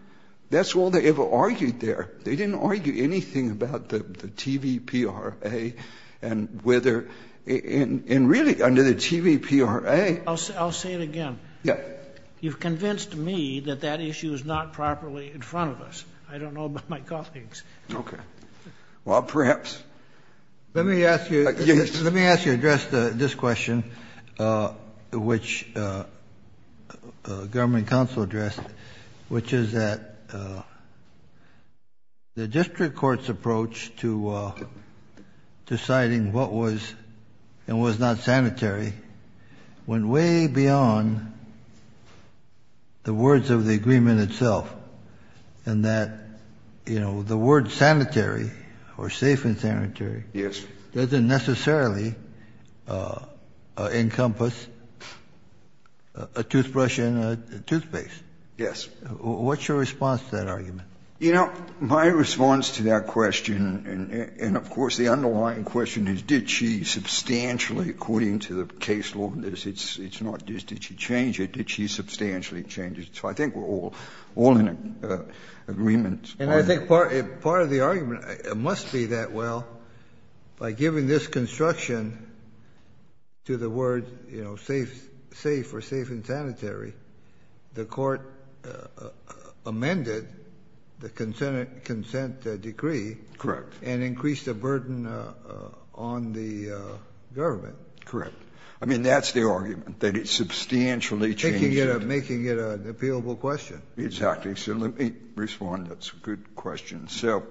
That's all they ever argued there. They didn't argue anything about the TVPRA and whether, and really under the TVPRA I'll say it again. Yeah. You've convinced me that that issue is not properly in front of us. I don't know about my colleagues. Okay. Well, perhaps. Let me ask you. Let me ask you to address this question, which government counsel addressed, which is that the district court's approach to deciding what was and was not sanitary went way beyond the words of the agreement itself, and that, you know, the word sanitary or safe and sanitary doesn't necessarily encompass a toothbrush and a toothpaste. Yes. What's your response to that argument? You know, my response to that question, and of course the underlying question is did she substantially, according to the case law, it's not just did she change it, did she substantially change it. So I think we're all in agreement. And I think part of the argument must be that, well, by giving this construction to the word, you know, safe or safe and sanitary, the court amended the consent decree. Correct. And increased the burden on the government. Correct. I mean, that's the argument, that it substantially changed it. Making it an appealable question. Exactly. So let me respond. That's a good question. So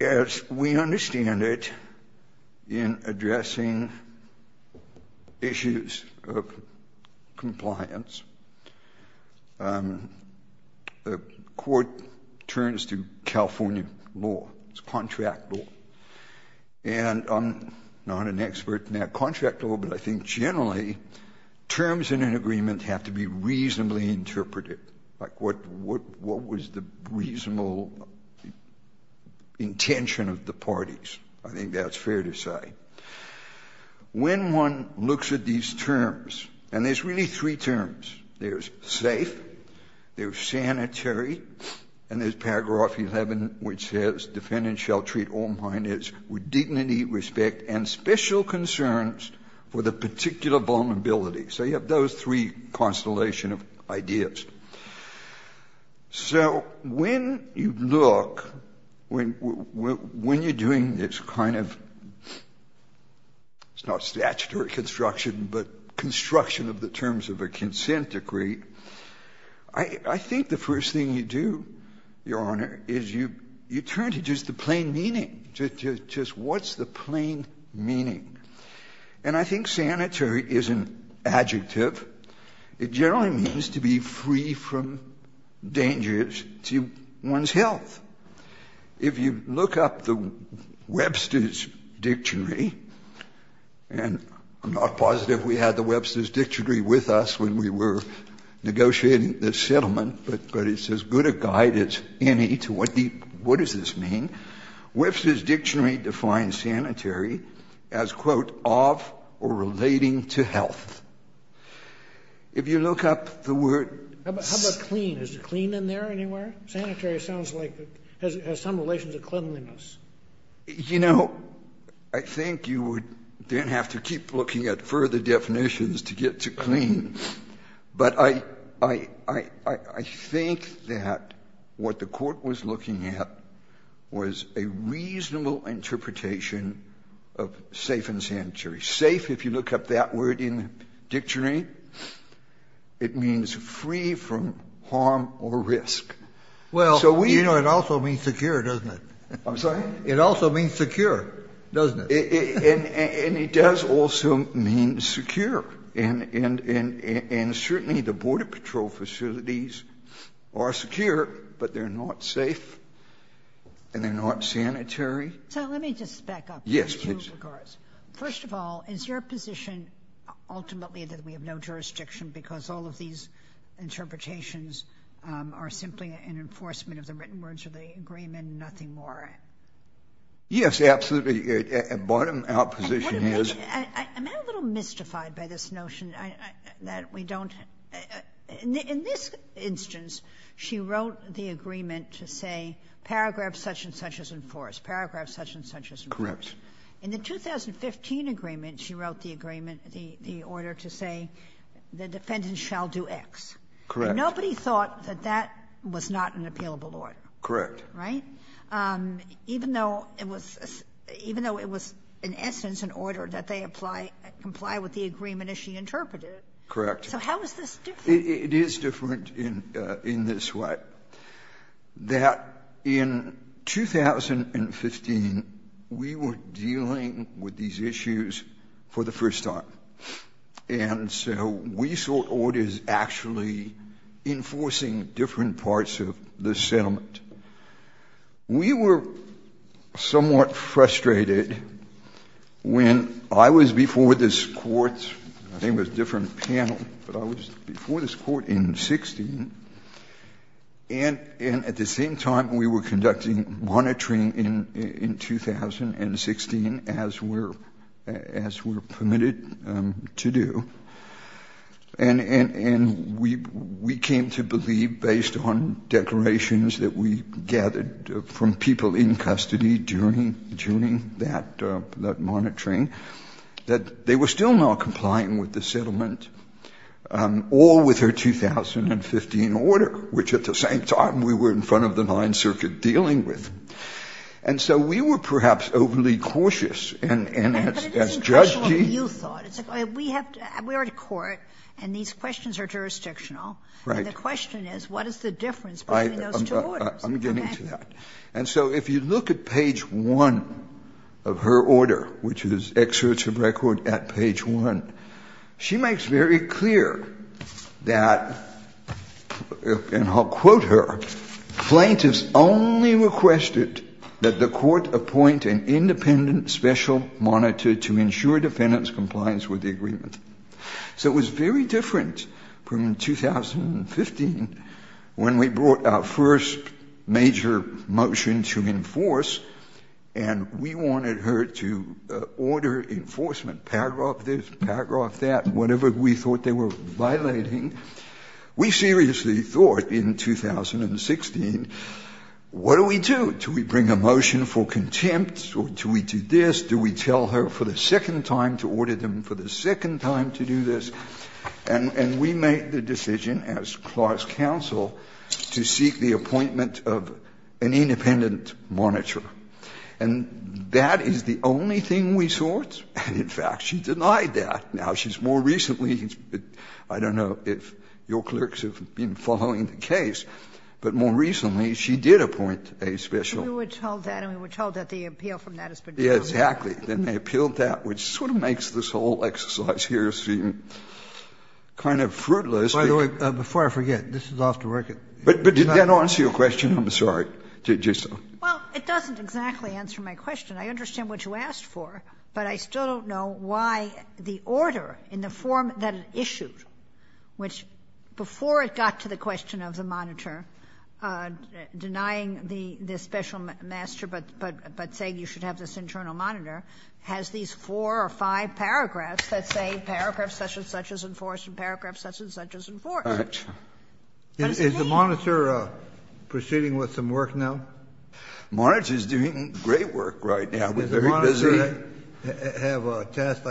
as we understand it, in addressing issues of compliance, the court turns to California law. It's contract law. And I'm not an expert in that contract law, but I think generally terms in an agreement have to be reasonably interpreted. Like what was the reasonable intention of the parties? I think that's fair to say. When one looks at these terms, and there's really three terms. There's safe. There's sanitary. And there's paragraph 11, which says defendant shall treat all minors with dignity, respect and special concerns for the particular vulnerability. So you have those three constellations of ideas. So when you look, when you're doing this kind of, it's not statutory construction, but construction of the terms of a consent decree, I think the first thing you do, Your Honor, is you turn to just the plain meaning. Just what's the plain meaning? And I think sanitary is an adjective. It generally means to be free from dangers to one's health. If you look up the Webster's Dictionary, and I'm not positive we had the Webster's Dictionary with us when we were negotiating this settlement, but it's as good a guide as any to what does this mean. Webster's Dictionary defines sanitary as, quote, of or relating to health. If you look up the word ---- How about clean? Is clean in there anywhere? Sanitary sounds like it has some relations to cleanliness. You know, I think you would then have to keep looking at further definitions to get to clean. But I think that what the Court was looking at was a reasonable interpretation of safe and sanitary. Safe, if you look up that word in the dictionary, it means free from harm or risk. So we ---- Well, you know, it also means secure, doesn't it? I'm sorry? It also means secure, doesn't it? And it does also mean secure. And certainly the Border Patrol facilities are secure, but they're not safe and they're not sanitary. So let me just back up in two regards. Yes, please. First of all, is your position ultimately that we have no jurisdiction because all of these interpretations are simply an enforcement of the written words of the agreement and nothing more? Yes, absolutely. Bottom out position is ---- I'm a little mystified by this notion that we don't ---- In this instance, she wrote the agreement to say paragraph such and such is enforced, paragraph such and such is enforced. Correct. In the 2015 agreement, she wrote the agreement, the order to say the defendant shall do X. Correct. And nobody thought that that was not an appealable order. Correct. Right? Even though it was in essence an order that they comply with the agreement, as she interpreted it. Correct. So how is this different? It is different in this way. That in 2015, we were dealing with these issues for the first time. And so we saw orders actually enforcing different parts of the settlement. We were somewhat frustrated when I was before this court. I think it was a different panel. But I was before this court in 2016. And at the same time, we were conducting monitoring in 2016 as were permitted to do, and we came to believe, based on declarations that we gathered from people in custody during that monitoring, that they were still not complying with the settlement or with her 2015 order, which at the same time we were in front of the Ninth Circuit dealing with. And so we were perhaps overly cautious. And as Judge Gee. We are at court, and these questions are jurisdictional. Right. And the question is, what is the difference between those two orders? I'm getting to that. And so if you look at page 1 of her order, which is excerpts of record at page 1, she makes very clear that, and I'll quote her, plaintiffs only requested that the court appoint an independent special monitor to ensure defendant's compliance with the agreement. So it was very different from 2015 when we brought our first major motion to enforce and we wanted her to order enforcement, paragraph this, paragraph that, whatever we thought they were violating. We seriously thought in 2016, what do we do? Do we bring a motion for contempt or do we do this? Do we tell her for the second time to order them, for the second time to do this? And we made the decision as class counsel to seek the appointment of an independent monitor. And that is the only thing we sought. And in fact, she denied that. Now, she's more recently, I don't know if your clerks have been following the case, but more recently she did appoint a special. Kagan. We were told that and we were told that the appeal from that has been dropped. Exactly. And they appealed that, which sort of makes this whole exercise here seem kind of fruitless. By the way, before I forget, this is off the record. But did that answer your question? I'm sorry. Well, it doesn't exactly answer my question. I understand what you asked for. But I still don't know why the order in the form that it issued, which before it got to the question of the monitor denying the special master, but saying you should have this internal monitor, has these four or five paragraphs that say paragraph such and such is enforced and paragraph such and such is enforced. Is the monitor proceeding with some work now? The monitor is doing great work right now. Does the monitor have a task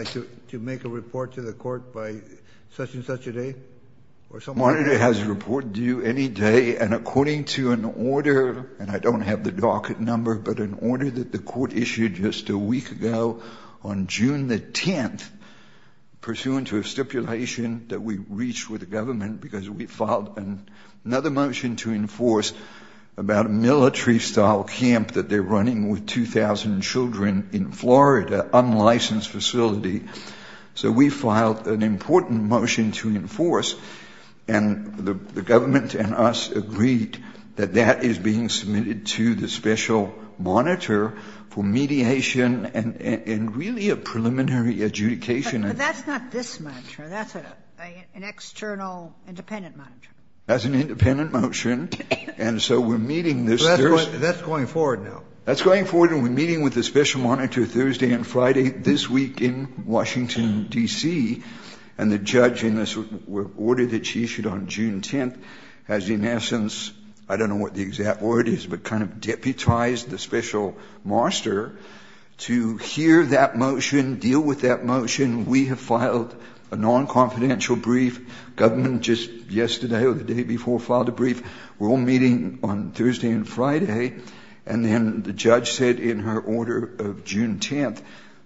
to make a report to the court by such and such a day? The monitor has a report due any day. And according to an order, and I don't have the docket number, but an order that the court issued just a week ago on June the 10th pursuant to a stipulation that we reached with the government because we filed another motion to enforce about a military-style camp that they're running with 2,000 children in Florida, an unlicensed facility. So we filed an important motion to enforce, and the government and us agreed that that is being submitted to the special monitor for mediation and really a preliminary adjudication. But that's not this monitor. That's an external independent monitor. That's an independent monitor. And so we're meeting this. That's going forward now. That's going forward and we're meeting with the special monitor Thursday and Friday this week in Washington, D.C., and the judge in this order that she issued on June 10th has in essence, I don't know what the exact word is, but kind of deputized the special monitor to hear that motion, deal with that motion. We have filed a non-confidential brief. Government just yesterday or the day before filed a brief. We're all meeting on Thursday and Friday. And then the judge said in her order of June 10th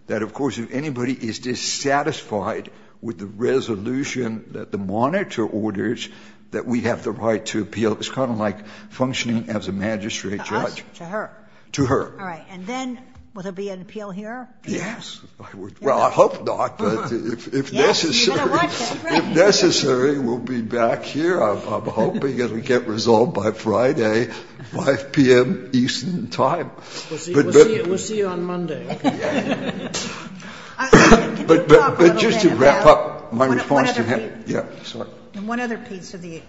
that, of course, if anybody is dissatisfied with the resolution that the monitor orders, that we have the right to appeal. It's kind of like functioning as a magistrate judge. To us? To her? To her. All right. And then will there be an appeal here? Yes. Well, I hope not. But if necessary, we'll be back here. I'm hoping it will get resolved by Friday, 5 p.m. Eastern time. We'll see you on Monday. But just to wrap up, my response to him. One other piece of the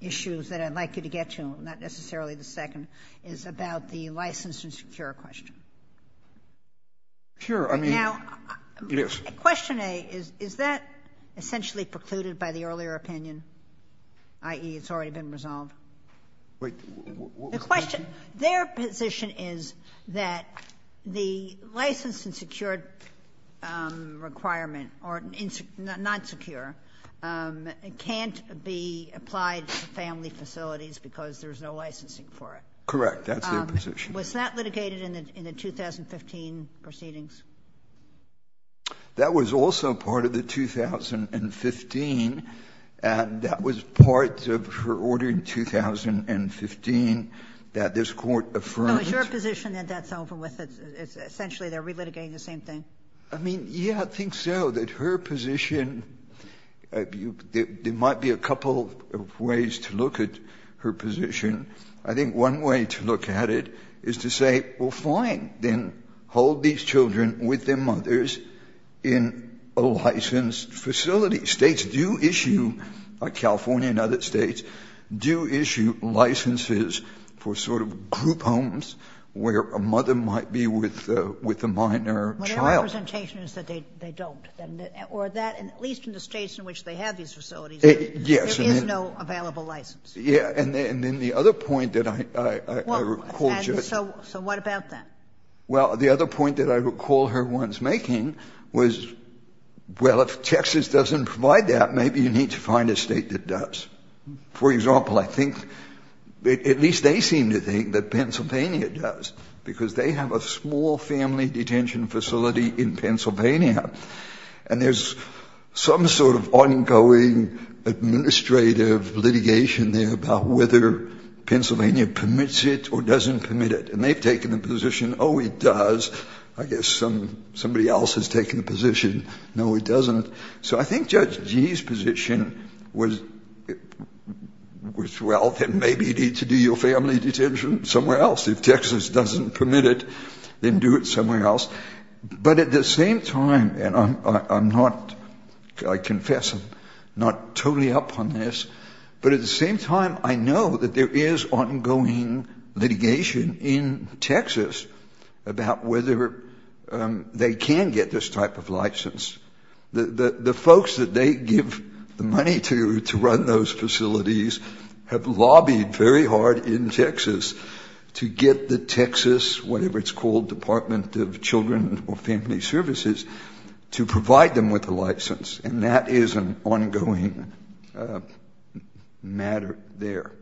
issues that I'd like you to get to, not necessarily the second, is about the license and secure question. Sure. I mean, yes. Now, question A, is that essentially precluded by the earlier opinion? I.e., it's already been resolved? Wait. What was the question? The question. Their position is that the license and secure requirement, or not secure, can't be applied to family facilities because there's no licensing for it. Correct. That's their position. Was that litigated in the 2015 proceedings? That was also part of the 2015, and that was part of her order in 2015 that this Court affirmed. So it's your position that that's over with? It's essentially they're relitigating the same thing? I mean, yes, I think so. That her position, there might be a couple of ways to look at her position. I think one way to look at it is to say, well, fine, then hold these children with their mothers in a licensed facility. States do issue, like California and other States, do issue licenses for sort of group homes where a mother might be with a minor child. Well, their representation is that they don't. Or that, at least in the States in which they have these facilities, there is no available license. Yeah, and then the other point that I recall. So what about that? Well, the other point that I recall her once making was, well, if Texas doesn't provide that, maybe you need to find a State that does. For example, I think, at least they seem to think that Pennsylvania does, because they have a small family detention facility in Pennsylvania, and there's some sort of ongoing administrative litigation there about whether Pennsylvania permits it or doesn't permit it. And they've taken the position, oh, it does. I guess somebody else has taken the position, no, it doesn't. So I think Judge Gee's position was, well, then maybe you need to do your family detention somewhere else. If Texas doesn't permit it, then do it somewhere else. But at the same time, and I'm not, I confess I'm not totally up on this, but at the same time, I know that there is ongoing litigation in Texas about whether they can get this type of license. The folks that they give the money to to run those facilities have lobbied very hard in services to provide them with a license. And that is an ongoing matter there.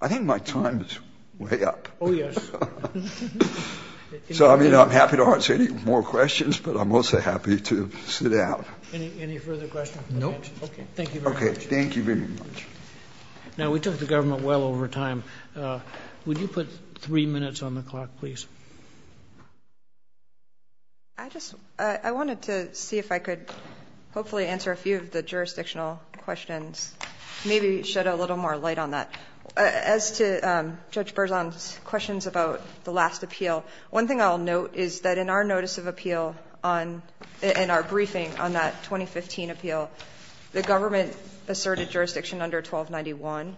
I think my time is way up. Oh, yes. So, I mean, I'm happy to answer any more questions, but I'm also happy to sit down. Any further questions? Nope. Okay, thank you very much. Okay, thank you very much. Now, we took the government well over time. Would you put three minutes on the clock, please? I just, I wanted to see if I could hopefully answer a few of the jurisdictional questions, maybe shed a little more light on that. As to Judge Berzon's questions about the last appeal, one thing I'll note is that in our notice of appeal on, in our briefing on that 2015 appeal, the government asserted jurisdiction under 1291.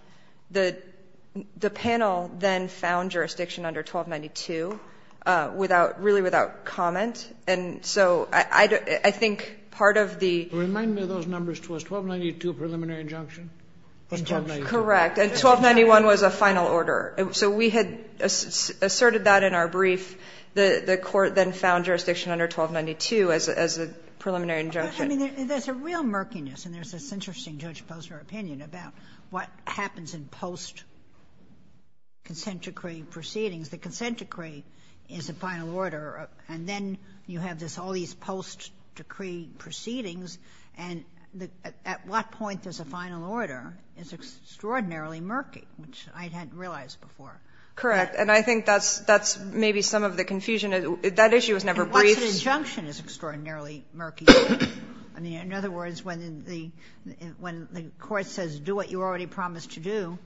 The panel then found jurisdiction under 1292 without, really without comment. And so I think part of the — Remind me of those numbers. Was 1292 a preliminary injunction? Correct. And 1291 was a final order. So we had asserted that in our brief. The court then found jurisdiction under 1292 as a preliminary injunction. I mean, there's a real murkiness, and there's this interesting Judge Posner opinion about what happens in post-consent decree proceedings. The consent decree is a final order, and then you have this, all these post-decree proceedings, and at what point does a final order is extraordinarily murky, which I hadn't realized before. Correct. And I think that's, that's maybe some of the confusion. That issue was never briefed. But an injunction is extraordinarily murky. I mean, in other words, when the court says do what you already promised to do,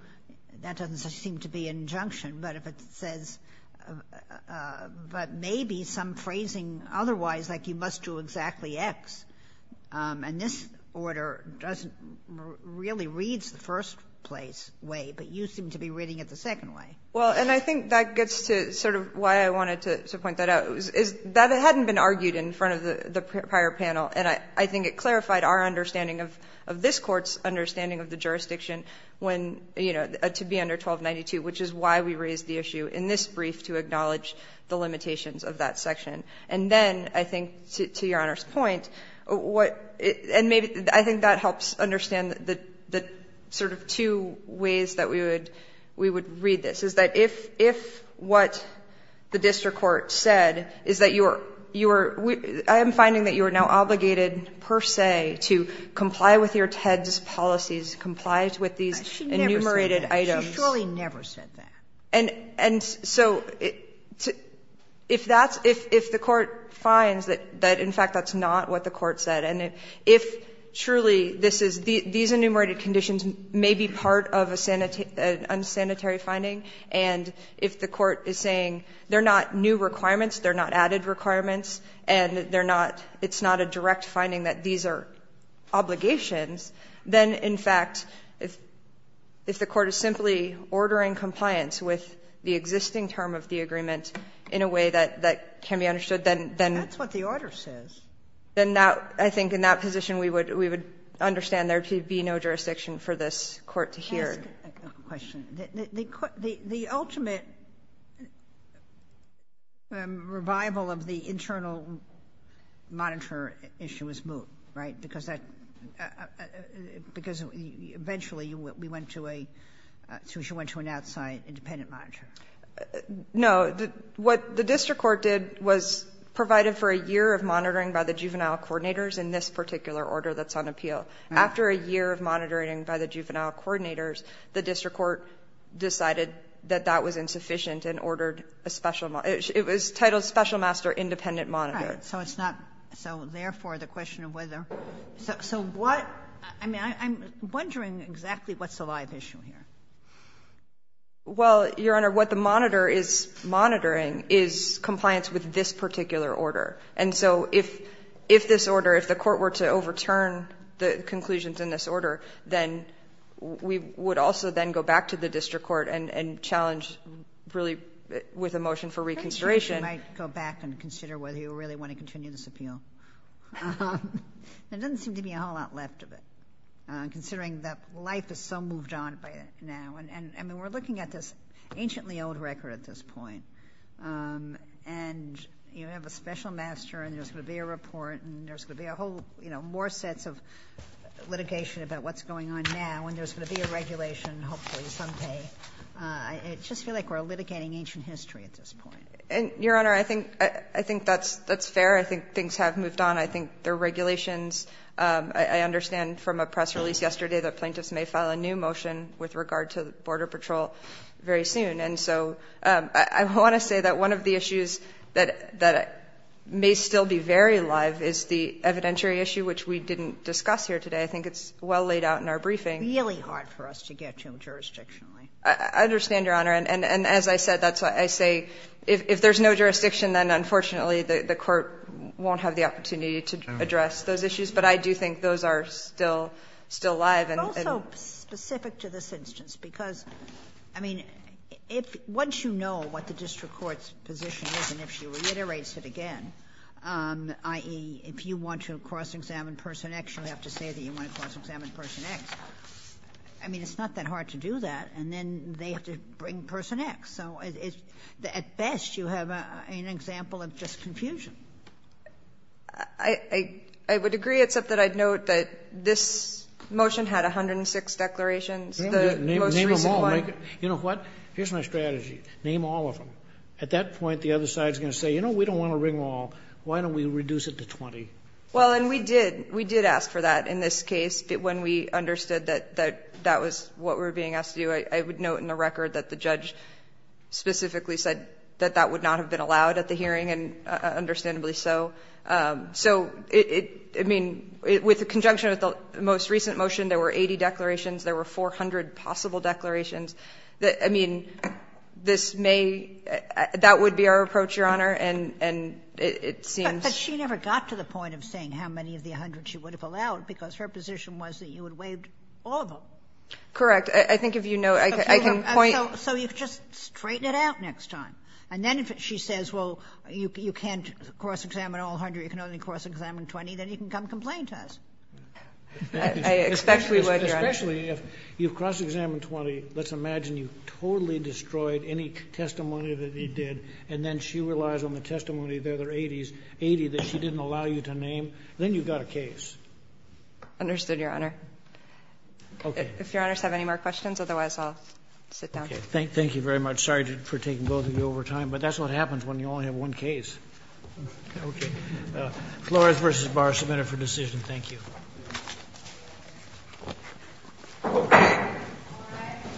that doesn't seem to be an injunction. But if it says, but maybe some phrasing otherwise, like you must do exactly X, and this order doesn't really read the first place way, but you seem to be reading it the second way. Well, and I think that gets to sort of why I wanted to point that out. That hadn't been argued in front of the prior panel, and I think it clarified our understanding of this Court's understanding of the jurisdiction when, you know, to be under 1292, which is why we raised the issue in this brief to acknowledge the limitations of that section. And then I think, to Your Honor's point, what, and maybe, I think that helps understand the sort of two ways that we would read this, is that if what the district court said is that you are, I am finding that you are now obligated per se to comply with your TEDS policies, comply with these enumerated items. Sotomayor She never said that. She surely never said that. And so if that's, if the court finds that in fact that's not what the court said, and if truly this is, these enumerated conditions may be part of an unsanitary finding, and if the court is saying they're not new requirements, they're not added requirements, and they're not, it's not a direct finding that these are obligations, then, in fact, if the court is simply ordering compliance with the existing term of the agreement in a way that can be understood, then that's what the order says. Then I think in that position we would understand there to be no jurisdiction for this Court to hear. Let me ask a question. The ultimate revival of the internal monitor issue was moved, right? Because eventually we went to an outside independent monitor. No. What the district court did was provided for a year of monitoring by the juvenile coordinators in this particular order that's on appeal. Right. After a year of monitoring by the juvenile coordinators, the district court decided that that was insufficient and ordered a special, it was titled special master independent monitor. Right. So it's not, so therefore the question of whether, so what, I mean, I'm wondering exactly what's the live issue here? Well, Your Honor, what the monitor is monitoring is compliance with this particular order. And so if this order, if the court were to overturn the conclusions in this order, then we would also then go back to the district court and challenge really with a motion for reconsideration. You might go back and consider whether you really want to continue this appeal. There doesn't seem to be a whole lot left of it, considering that life is so moved on by it now. I mean, we're looking at this anciently old record at this point, and you know, there's going to be a master and there's going to be a report and there's going to be a whole, you know, more sets of litigation about what's going on now. And there's going to be a regulation hopefully someday. I just feel like we're litigating ancient history at this point. And Your Honor, I think that's fair. I think things have moved on. I think the regulations, I understand from a press release yesterday that plaintiffs may file a new motion with regard to border patrol very soon. And so I want to say that one of the issues that may still be very live is the evidentiary issue, which we didn't discuss here today. I think it's well laid out in our briefing. It's really hard for us to get to it jurisdictionally. I understand, Your Honor. And as I said, that's why I say if there's no jurisdiction, then unfortunately the court won't have the opportunity to address those issues. But I do think those are still alive. And also specific to this instance, because I mean, if once you know what the district court's position is and if she reiterates it again, i.e., if you want to cross-examine person X, you have to say that you want to cross-examine person X. I mean, it's not that hard to do that, and then they have to bring person X. So at best you have an example of just confusion. I would agree, except that I'd note that this motion had 106 declarations. Name them all. You know what? Here's my strategy. Name all of them. At that point, the other side is going to say, you know, we don't want to ring them all. Why don't we reduce it to 20? Well, and we did. We did ask for that in this case. When we understood that that was what we were being asked to do, I would note in the record that the judge specifically said that that would not have been allowed at the time, and it's not going to be so. So it mean, with the conjunction of the most recent motion, there were 80 declarations. There were 400 possible declarations. I mean, this may be that would be our approach, Your Honor, and it seems. But she never got to the point of saying how many of the 100 she would have allowed because her position was that you would waive all of them. Correct. I think if you know, I can point. So you just straighten it out next time. And then if she says, well, you can't cross-examine all 100, you can only cross-examine 20, then you can come complain to us. I expect we would, Your Honor. Especially if you cross-examine 20. Let's imagine you totally destroyed any testimony that he did, and then she relies on the testimony of the other 80 that she didn't allow you to name. Then you've got a case. Understood, Your Honor. Okay. If Your Honors have any more questions, otherwise I'll sit down. Thank you very much. I'm sorry for taking both of you over time, but that's what happens when you only have one case. Okay. Flores v. Barr, submit it for decision. Thank you.